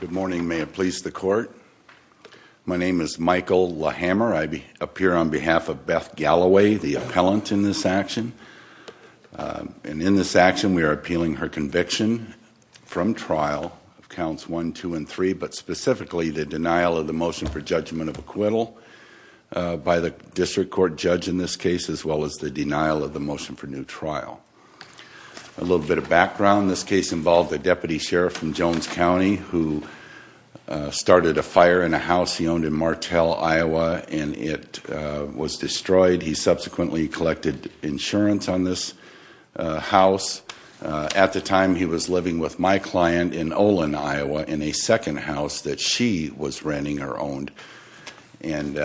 Good morning, may it please the court My name is Michael Hammer. I be appear on behalf of Beth Galloway the appellant in this action And in this action, we are appealing her conviction From trial of counts one two and three, but specifically the denial of the motion for judgment of acquittal By the district court judge in this case as well as the denial of the motion for new trial a Jones County who? Started a fire in a house. He owned in Martel, Iowa, and it was destroyed. He subsequently collected insurance on this house At the time he was living with my client in Olin, Iowa in a second house that she was renting or owned and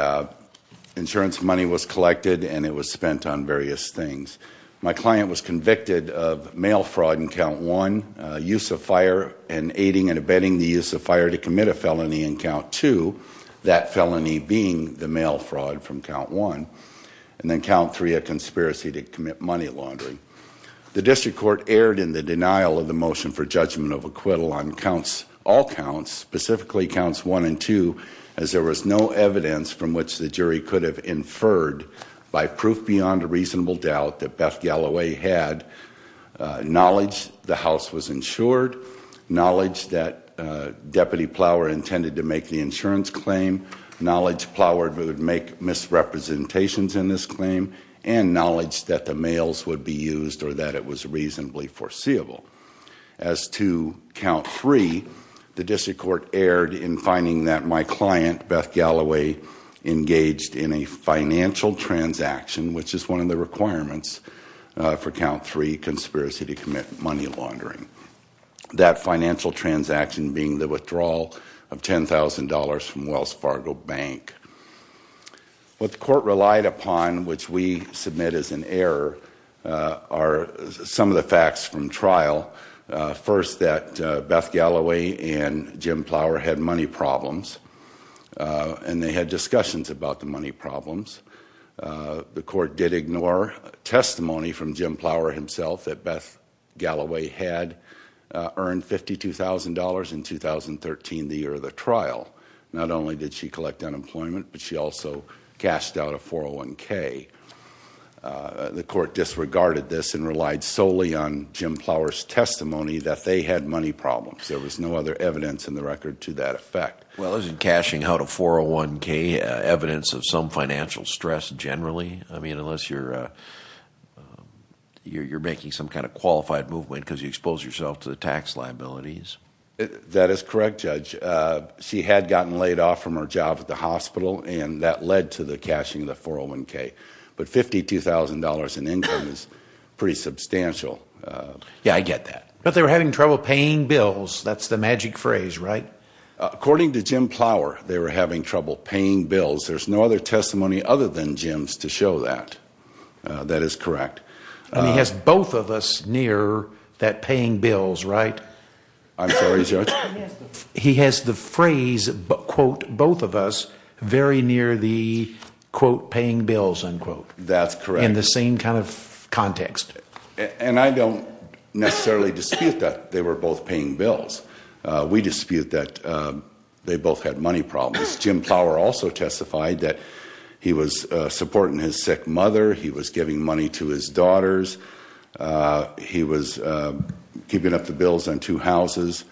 Insurance money was collected and it was spent on various things My client was convicted of mail fraud in count one Use of fire and aiding and abetting the use of fire to commit a felony in count to That felony being the mail fraud from count one and then count three a conspiracy to commit money laundering The district court aired in the denial of the motion for judgment of acquittal on counts all counts Specifically counts one and two as there was no evidence from which the jury could have inferred By proof beyond a reasonable doubt that Beth Galloway had Knowledge the house was insured knowledge that Deputy plower intended to make the insurance claim knowledge ploward would make misrepresentations in this claim and knowledge that the mails would be used or that it was reasonably foreseeable as To count three the district court aired in finding that my client Beth Galloway Engaged in a financial transaction, which is one of the requirements for count three conspiracy to commit money laundering That financial transaction being the withdrawal of ten thousand dollars from Wells Fargo Bank What the court relied upon which we submit as an error Are some of the facts from trial? First that Beth Galloway and Jim plower had money problems And they had discussions about the money problems The court did ignore testimony from Jim plower himself that Beth Galloway had earned $52,000 in 2013 the year of the trial not only did she collect unemployment, but she also cashed out a 401k The court disregarded this and relied solely on Jim plowers testimony that they had money problems There was no other evidence in the record to that effect well, isn't cashing out a 401k evidence of some financial stress generally, I mean unless you're You're you're making some kind of qualified movement because you expose yourself to the tax liabilities That is correct judge She had gotten laid off from her job at the hospital and that led to the cashing of the 401k But $52,000 in income is pretty substantial Yeah, I get that but they were having trouble paying bills, that's the magic phrase, right? According to Jim plower. They were having trouble paying bills. There's no other testimony other than Jim's to show that That is correct. And he has both of us near that paying bills, right? I'm sorry judge he has the phrase but quote both of us very near the Quote paying bills unquote. That's correct in the same kind of Necessarily dispute that they were both paying bills We dispute that They both had money problems. Jim plower also testified that he was supporting his sick mother. He was giving money to his daughters he was Keeping up the bills on two houses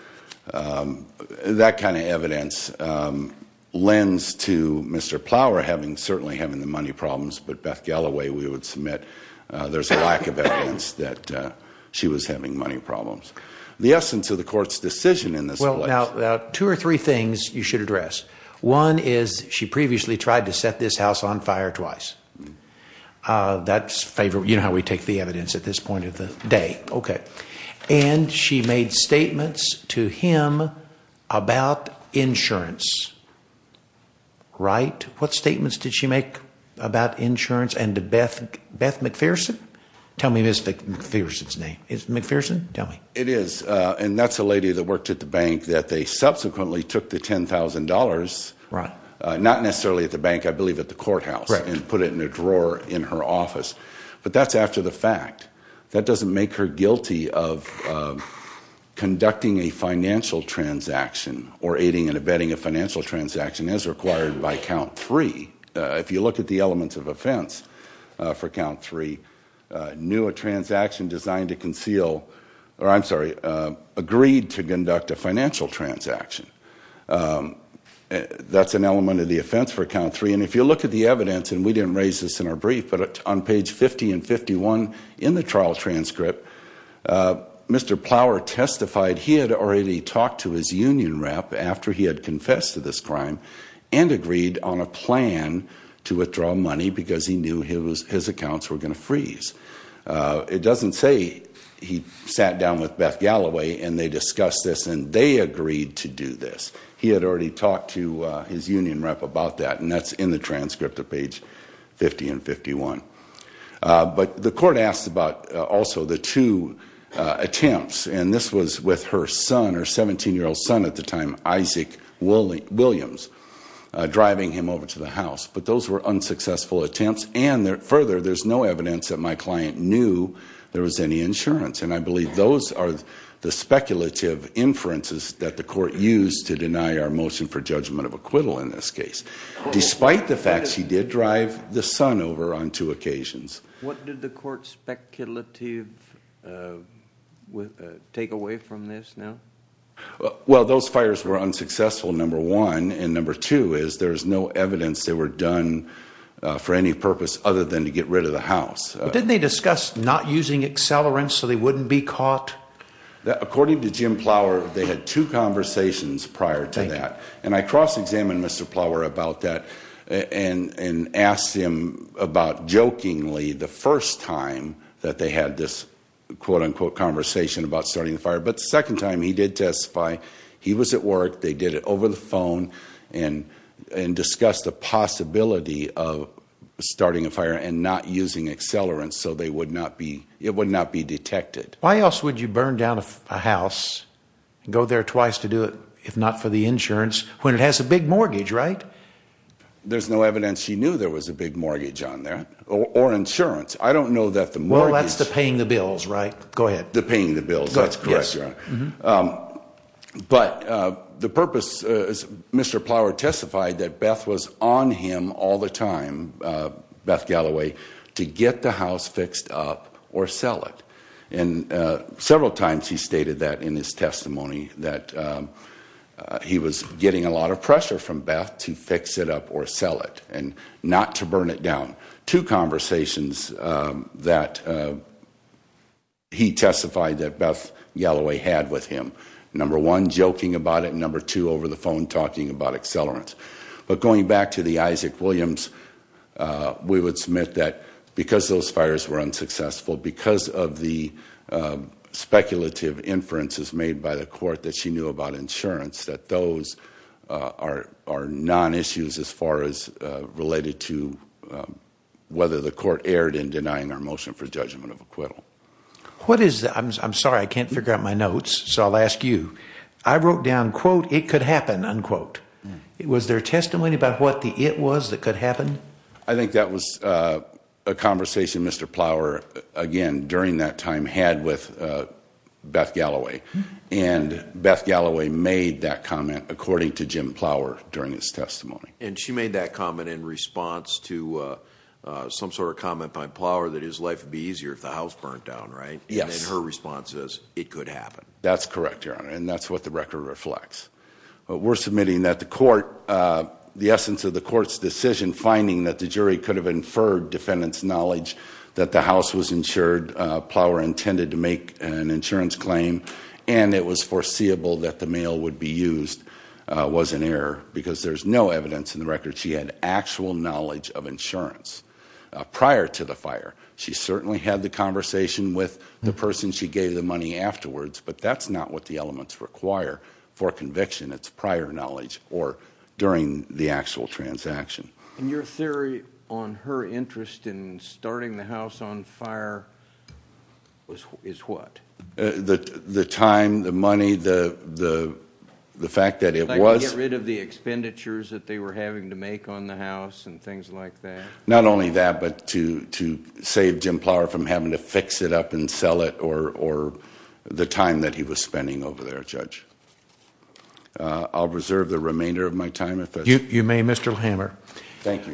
That kind of evidence Lends to mr. Plower having certainly having the money problems, but Beth Galloway we would submit there's a lack of evidence that She was having money problems the essence of the court's decision in this well now two or three things You should address one is she previously tried to set this house on fire twice That's favorite. You know how we take the evidence at this point of the day. Okay, and she made statements to him about insurance Right, what statements did she make about insurance and to Beth Beth McPherson tell me mystic McPherson's name is McPherson. Tell me it is and that's a lady that worked at the bank that they subsequently took the $10,000 right not necessarily at the bank. I believe at the courthouse and put it in a drawer in her office But that's after the fact that doesn't make her guilty of Conducting a financial transaction or aiding and abetting a financial transaction As required by count three if you look at the elements of offense for count three Knew a transaction designed to conceal or I'm sorry agreed to conduct a financial transaction That's an element of the offense for count three and if you look at the evidence And we didn't raise this in our brief, but on page 50 and 51 in the trial transcript Mr. Plower testified he had already talked to his union rep after he had confessed to this crime and Agreed on a plan to withdraw money because he knew his accounts were going to freeze It doesn't say he sat down with Beth Galloway, and they discussed this and they agreed to do this He had already talked to his union rep about that and that's in the transcript of page 50 and 51 But the court asked about also the two Attempts and this was with her son or 17 year old son at the time Isaac Willie Williams Driving him over to the house, but those were unsuccessful attempts and there further There's no evidence that my client knew there was any insurance And I believe those are the speculative inferences that the court used to deny our motion for judgment of acquittal in this case Despite the fact she did drive the son over on two occasions. What did the court speculative? With take away from this now Well those fires were unsuccessful number one and number two is there's no evidence. They were done For any purpose other than to get rid of the house didn't they discuss not using accelerants, so they wouldn't be caught That according to Jim Plower they had two conversations prior to that and I cross-examined mr. Plower about that and and asked him about jokingly the first time that they had this Quote-unquote conversation about starting the fire, but the second time he did testify. He was at work. They did it over the phone and and discussed the possibility of Starting a fire and not using accelerants, so they would not be it would not be detected Why else would you burn down a house? Go there twice to do it if not for the insurance when it has a big mortgage, right? There's no evidence. She knew there was a big mortgage on there or insurance. I don't know that the more That's the paying the bills right go ahead the paying the bills. That's correct But the purpose is mr. Plower testified that Beth was on him all the time Beth Galloway to get the house fixed up or sell it and Several times he stated that in his testimony that He was getting a lot of pressure from Beth to fix it up or sell it and not to burn it down to conversations that He testified that Beth Galloway had with him number one joking about it number two over the phone talking about accelerants But going back to the Isaac Williams we would submit that because those fires were unsuccessful because of the Speculative inferences made by the court that she knew about insurance that those are non issues as far as related to Whether the court erred in denying our motion for judgment of acquittal What is I'm sorry, I can't figure out my notes. So I'll ask you I wrote down quote it could happen unquote It was their testimony about what the it was that could happen. I think that was a Time had with Beth Galloway and Beth Galloway made that comment according to Jim Plower during his testimony and she made that comment in response to Some sort of comment by Plower that his life would be easier if the house burnt down, right? Yes, her response is it could happen. That's correct here on and that's what the record reflects We're submitting that the court The essence of the court's decision finding that the jury could have inferred defendants knowledge that the house was insured Plower intended to make an insurance claim and it was foreseeable that the mail would be used Was an error because there's no evidence in the record. She had actual knowledge of insurance Prior to the fire. She certainly had the conversation with the person She gave the money afterwards, but that's not what the elements require for conviction It's prior knowledge or during the actual transaction and your theory on her interest in fire was is what the the time the money the the The fact that it was rid of the expenditures that they were having to make on the house and things like that not only that but to to save Jim Plower from having to fix it up and sell it or The time that he was spending over there judge I'll reserve the remainder of my time if you may mr. Hammer. Thank you.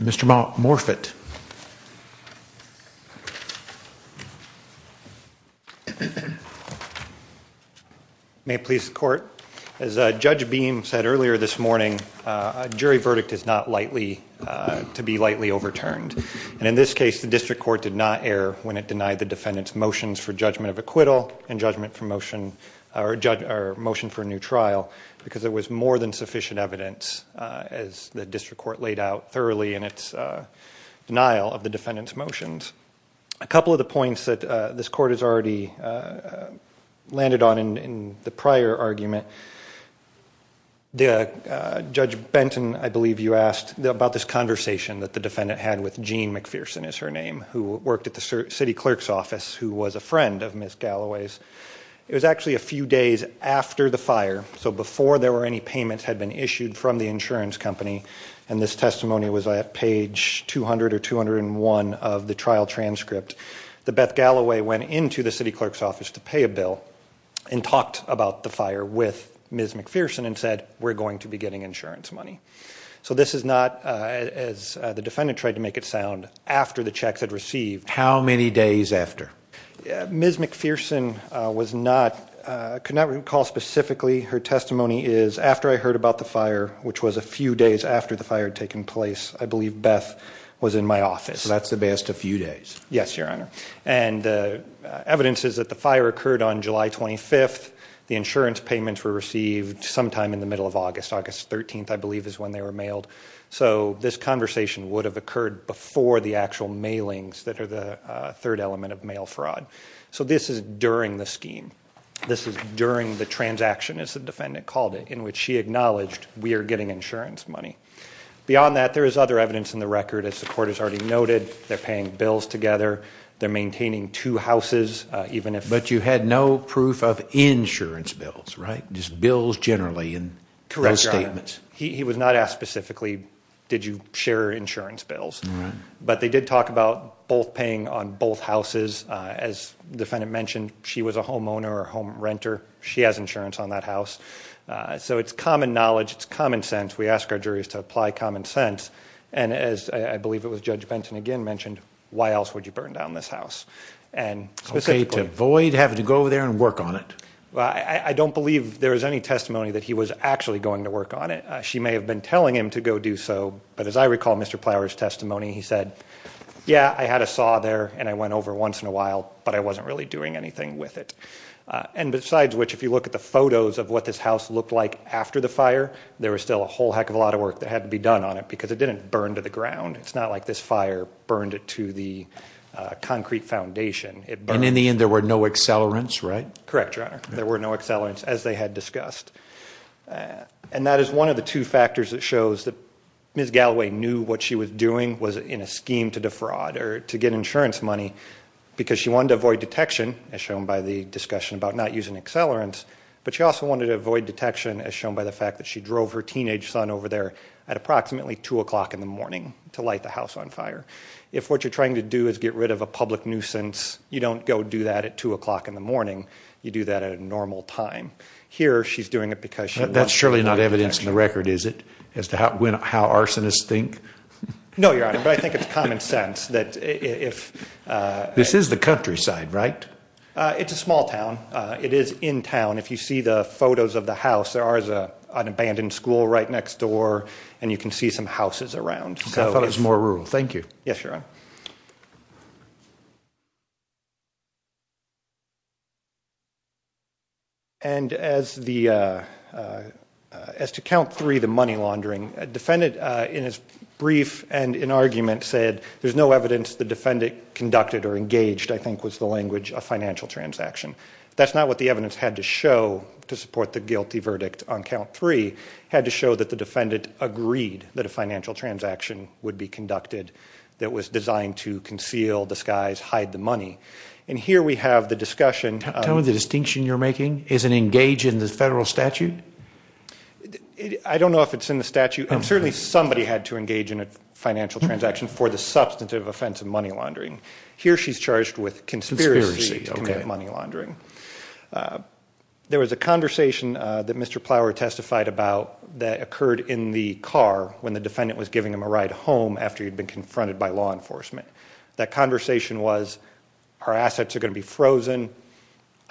Mr. Malt Morfitt I May please the court as a judge beam said earlier this morning Jury verdict is not lightly To be lightly overturned and in this case the district court did not err when it denied the defendants motions for judgment of acquittal and judgment Promotion or judge or motion for a new trial because there was more than sufficient evidence as the district court laid out thoroughly and it's Of the defendants motions a couple of the points that this court has already Landed on in the prior argument the Judge Benton I believe you asked about this conversation that the defendant had with Jean McPherson is her name who worked at the city clerks Office who was a friend of Miss Galloway's? It was actually a few days after the fire So before there were any payments had been issued from the insurance company and this testimony was at page 200 or 201 of the trial transcript the Beth Galloway went into the city clerk's office to pay a bill and Talked about the fire with Ms. McPherson and said we're going to be getting insurance money So this is not as the defendant tried to make it sound after the checks had received how many days after? Ms. McPherson was not Could not recall specifically her testimony is after I heard about the fire, which was a few days after the fire had taken place I believe Beth was in my office. That's the best a few days. Yes, your honor and Evidence is that the fire occurred on July 25th. The insurance payments were received sometime in the middle of August August 13th I believe is when they were mailed So this conversation would have occurred before the actual mailings that are the third element of mail fraud So this is during the scheme This is during the transaction as the defendant called it in which she acknowledged we are getting insurance money Beyond that there is other evidence in the record as the court has already noted. They're paying bills together They're maintaining two houses even if but you had no proof of insurance bills, right? Just bills generally in correct statements. He was not asked specifically Did you share insurance bills? But they did talk about both paying on both houses as the defendant mentioned. She was a homeowner or home renter She has insurance on that house So it's common knowledge, it's common sense we ask our juries to apply common sense and as I believe it was judge Benton again mentioned why else would you burn down this house and Okay to avoid having to go over there and work on it Well, I I don't believe there was any testimony that he was actually going to work on it She may have been telling him to go do so but as I recall, mr. Plowers testimony, he said Yeah, I had a saw there and I went over once in a while, but I wasn't really doing anything with it And besides which if you look at the photos of what this house looked like after the fire There was still a whole heck of a lot of work that had to be done on it because it didn't burn to the ground it's not like this fire burned it to the Concrete foundation it burn in the end. There were no accelerants, right? Correct, your honor. There were no accelerants as they had discussed And that is one of the two factors that shows that Miss Galloway knew what she was doing was in a scheme to defraud or to get insurance money Because she wanted to avoid detection as shown by the discussion about not using accelerants But she also wanted to avoid detection as shown by the fact that she drove her teenage son over there at Approximately two o'clock in the morning to light the house on fire If what you're trying to do is get rid of a public nuisance You don't go do that at two o'clock in the morning. You do that at a normal time here She's doing it because she that's surely not evidence in the record. Is it as to how when how arsonists think? no, your honor, but I think it's common sense that if This is the countryside, right? It's a small town. It is in town If you see the photos of the house, there are as a an abandoned school right next door and you can see some houses around So I thought it was more rural. Thank you. Yes, your honor And as the As to count three the money laundering Defendant in his brief and in argument said there's no evidence the defendant conducted or engaged I think was the language a financial transaction That's not what the evidence had to show to support the guilty verdict on count three had to show that the defendant Agreed that a financial transaction would be conducted that was designed to conceal the skies hide the money and here We have the discussion telling the distinction you're making is an engage in the federal statute I don't know if it's in the statute and certainly somebody had to engage in a financial transaction for the substantive offense of money laundering Here she's charged with conspiracy money laundering There was a conversation that Mr. Plower testified about that occurred in the car when the defendant was giving him a ride home after he'd been confronted by law enforcement That conversation was our assets are going to be frozen.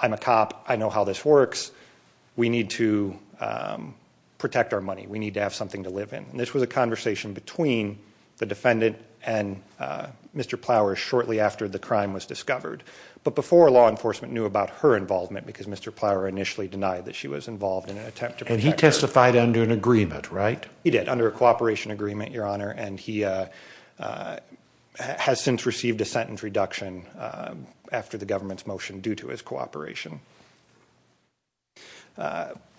I'm a cop. I know how this works We need to protect our money we need to have something to live in and this was a conversation between the defendant and Mr. Plower shortly after the crime was discovered, but before law enforcement knew about her involvement because mr. Plower initially denied that she was involved in an attempt and he testified under an agreement right he did under a cooperation agreement your honor and he Has since received a sentence reduction after the government's motion due to his cooperation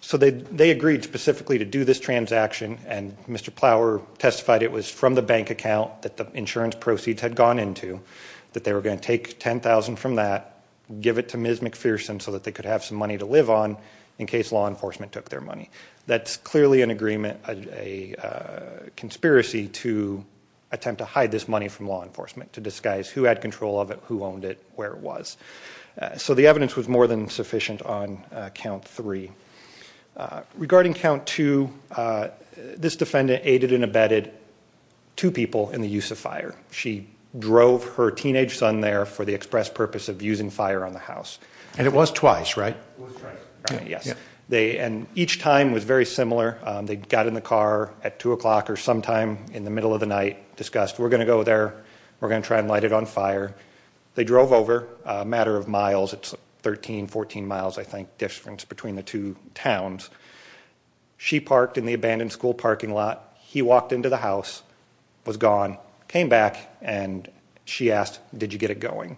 So they they agreed specifically to do this transaction and mr. Plower testified it was from the bank account that the insurance proceeds had gone into that they were going to take ten thousand from that Give it to ms. McPherson so that they could have some money to live on in case law enforcement took their money that's clearly an agreement a Conspiracy to Attempt to hide this money from law enforcement to disguise who had control of it who owned it where it was So the evidence was more than sufficient on count three regarding count to This defendant aided and abetted Two people in the use of fire she drove her teenage son there for the express purpose of using fire on the house And it was twice right? Yes, they and each time was very similar They got in the car at two o'clock or sometime in the middle of the night discussed. We're gonna go there We're gonna try and light it on fire They drove over a matter of miles, it's 13 14 miles, I think difference between the two towns She parked in the abandoned school parking lot. He walked into the house was gone came back and She asked did you get it going?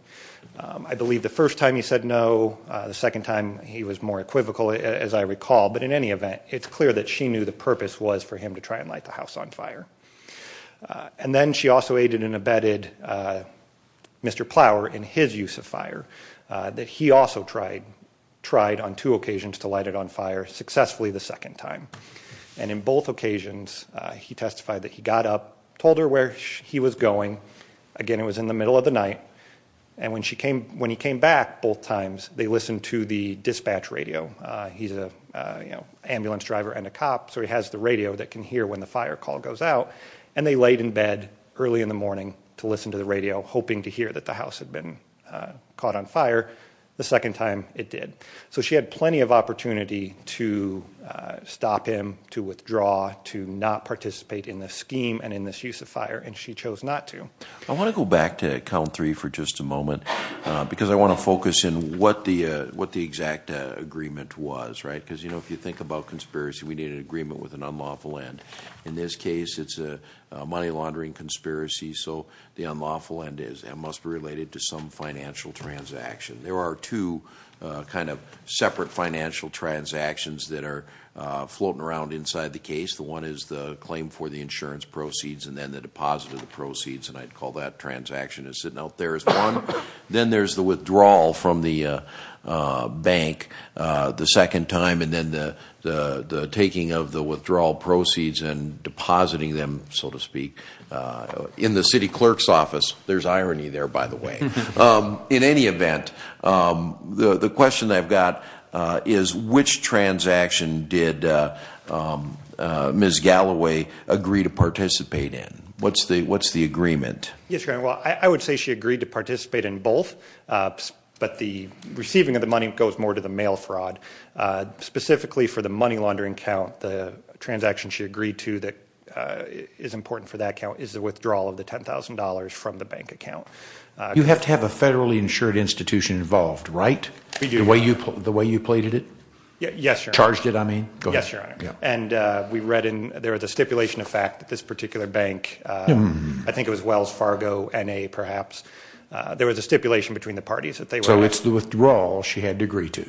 I believe the first time he said no the second time He was more equivocal as I recall But in any event, it's clear that she knew the purpose was for him to try and light the house on fire And then she also aided and abetted Mr. Plower in his use of fire That he also tried tried on two occasions to light it on fire successfully the second time and in both occasions He testified that he got up told her where he was going again It was in the middle of the night and when she came when he came back both times. They listened to the dispatch radio He's a you know ambulance driver and a cop So he has the radio that can hear when the fire call goes out and they laid in bed Early in the morning to listen to the radio hoping to hear that the house had been Caught on fire the second time it did so she had plenty of opportunity to Stop him to withdraw to not participate in the scheme and in this use of fire and she chose not to I want to go back to count three for just a moment Because I want to focus in what the what the exact agreement was, right? Because you know if you think about conspiracy, we need an agreement with an unlawful end in this case It's a money laundering conspiracy. So the unlawful end is and must be related to some financial transaction. There are two kind of separate financial transactions that are Floating around inside the case The one is the claim for the insurance proceeds and then the deposit of the proceeds and I'd call that Transaction is sitting out. There's one then there's the withdrawal from the bank the second time and then the Taking of the withdrawal proceeds and depositing them so to speak In the city clerk's office. There's irony there, by the way in any event The the question I've got is which transaction did? Ms. Galloway agree to participate in what's the what's the agreement? Yes. Well, I would say she agreed to participate in both But the receiving of the money goes more to the mail fraud Specifically for the money laundering count the transaction she agreed to that Is important for that count is the withdrawal of the $10,000 from the bank account You have to have a federally insured institution involved right the way you put the way you plated it. Yes charged it I mean, yes, your honor and we read in there was a stipulation of fact that this particular bank I think it was Wells Fargo and a perhaps There was a stipulation between the parties that they were so it's the withdrawal she had to agree to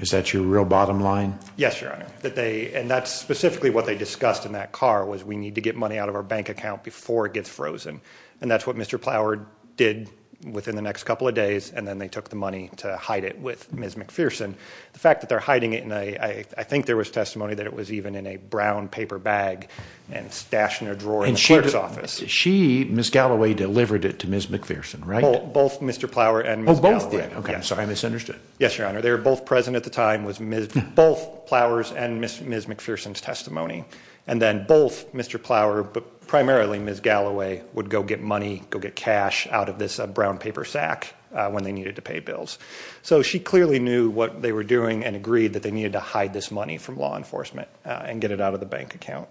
Is that your real bottom line? Yes, your honor that they and that's specifically what they discussed in that car was we need to get money out of our bank account Before it gets frozen and that's what mr Plower did within the next couple of days and then they took the money to hide it with ms McPherson the fact that they're hiding it and I I think there was testimony that it was even in a brown paper bag and Stashed in a drawer insurance office. She ms. Galloway delivered it to ms. McPherson, right both. Mr. Plower and both Okay, so I misunderstood yes, your honor they were both present at the time was miss both flowers and miss ms McPherson's testimony and then both mr. Plower, but primarily ms Galloway would go get money go get cash out of this a brown paper sack when they needed to pay bills So she clearly knew what they were doing and agreed that they needed to hide this money from law enforcement And get it out of the bank account.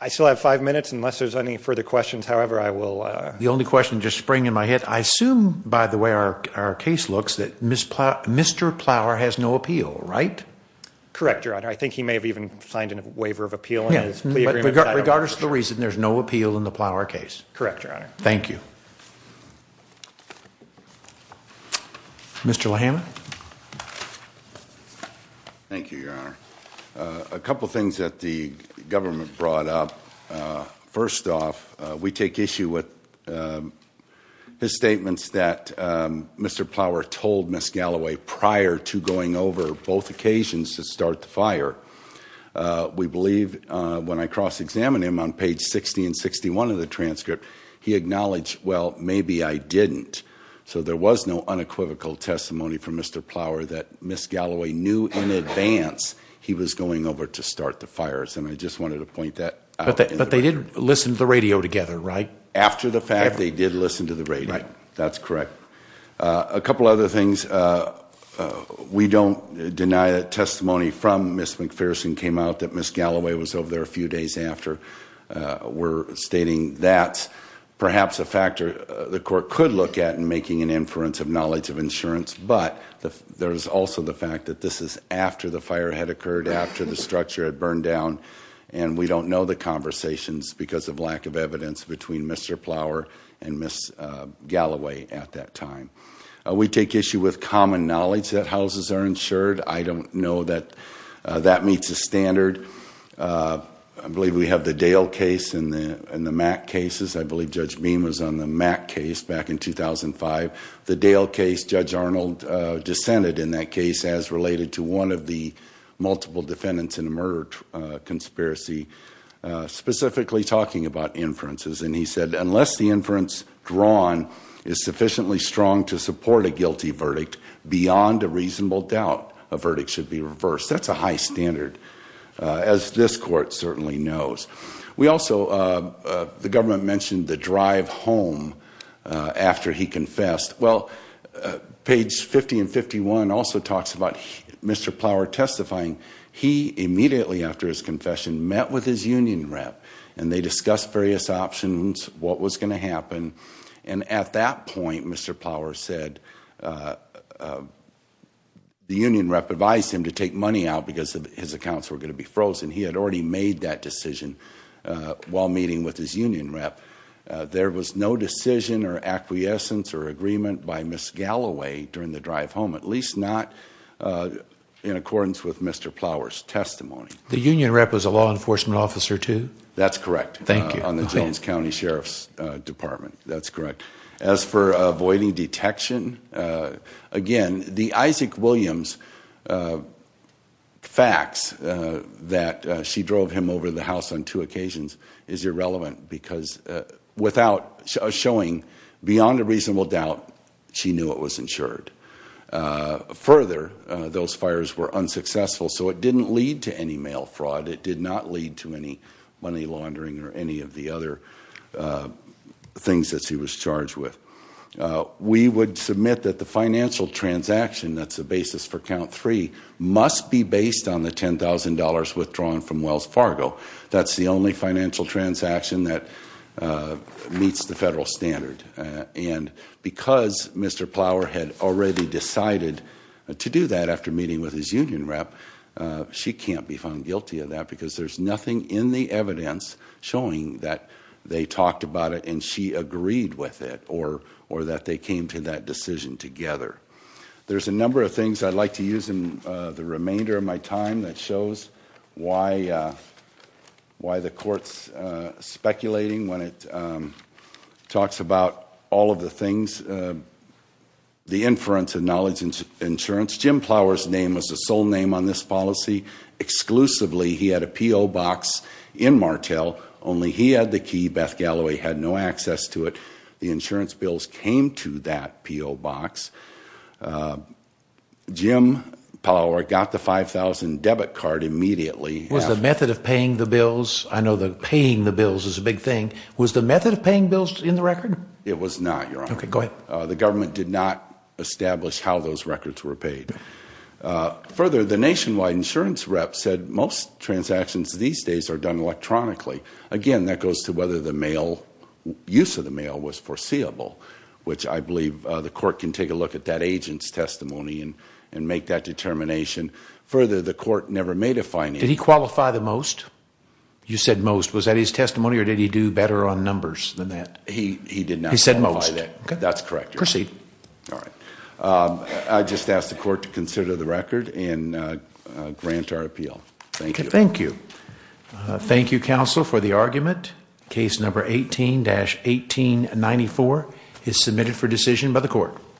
I Only question just spring in my head. I assume by the way, our case looks that misplot. Mr. Plower has no appeal, right? Correct, your honor. I think he may have even signed in a waiver of appeal. Yes Regardless the reason there's no appeal in the plow our case. Correct, your honor. Thank you Mr. Lohan Thank you your honor a couple things that the government brought up First off we take issue with His statements that Mr. Plower told miss Galloway prior to going over both occasions to start the fire We believe when I cross-examined him on page 60 and 61 of the transcript he acknowledged Well, maybe I didn't so there was no unequivocal testimony from mr Plower that miss Galloway knew in advance He was going over to start the fires and I just wanted to point that Okay, but they didn't listen to the radio together right after the fact they did listen to the radio. That's correct a couple other things We don't deny that testimony from miss McPherson came out that miss Galloway was over there a few days after We're stating that Perhaps a factor the court could look at and making an inference of knowledge of insurance But the there's also the fact that this is after the fire had occurred after the structure had burned down and we don't know the Conversations because of lack of evidence between mr. Plower and miss Galloway at that time we take issue with common knowledge that houses are insured. I don't know that that meets a standard I believe we have the Dale case in the in the Mac cases I believe judge beam was on the Mac case back in 2005 the Dale case judge Arnold dissented in that case as related to one of the multiple defendants in a murder conspiracy Specifically talking about inferences and he said unless the inference drawn is sufficiently strong to support a guilty verdict Beyond a reasonable doubt a verdict should be reversed. That's a high standard As this court certainly knows we also The government mentioned the drive home After he confessed well page 50 and 51 also talks about mr. Plower testifying He immediately after his confession met with his union rep and they discussed various options What was going to happen and at that point? Mr. Plower said? The union rep advised him to take money out because of his accounts were going to be frozen he had already made that decision While meeting with his union rep There was no decision or acquiescence or agreement by miss Galloway during the drive home at least not In accordance with mr. Plower's testimony the union rep was a law enforcement officer, too. That's correct Thank you on the Jones County Sheriff's Department. That's correct as for avoiding detection again, the Isaac Williams Facts That she drove him over the house on two occasions is irrelevant because Without showing beyond a reasonable doubt. She knew it was insured Further those fires were unsuccessful. So it didn't lead to any mail fraud. It did not lead to any money laundering or any of the other Things that she was charged with We would submit that the financial transaction that's a basis for count three must be based on the $10,000 withdrawn from Wells Fargo. That's the only financial transaction that meets the federal standard and Because mr. Plower had already decided to do that after meeting with his union rep She can't be found guilty of that because there's nothing in the evidence Showing that they talked about it and she agreed with it or or that they came to that decision together There's a number of things. I'd like to use in the remainder of my time that shows why? why the courts speculating when it Talks about all of the things The inference of knowledge into insurance Jim Plower's name was the sole name on this policy Exclusively he had a PO box in Martel only he had the key Beth Galloway had no access to it The insurance bills came to that PO box Jim Plower got the 5,000 debit card immediately was the method of paying the bills I know the paying the bills is a big thing was the method of paying bills in the record It was not your okay. Go ahead. The government did not establish how those records were paid Further the nationwide insurance rep said most transactions these days are done electronically again that goes to whether the mail Use of the mail was foreseeable Which I believe the court can take a look at that agent's testimony and and make that determination Further the court never made a fine. Did he qualify the most? You said most was that his testimony or did he do better on numbers than that? He he did not said most Okay, that's correct. You're see. All right I just asked the court to consider the record and Grant our appeal. Thank you. Thank you Thank you counsel for the argument case number 18 dash 1894 is submitted for decision by the court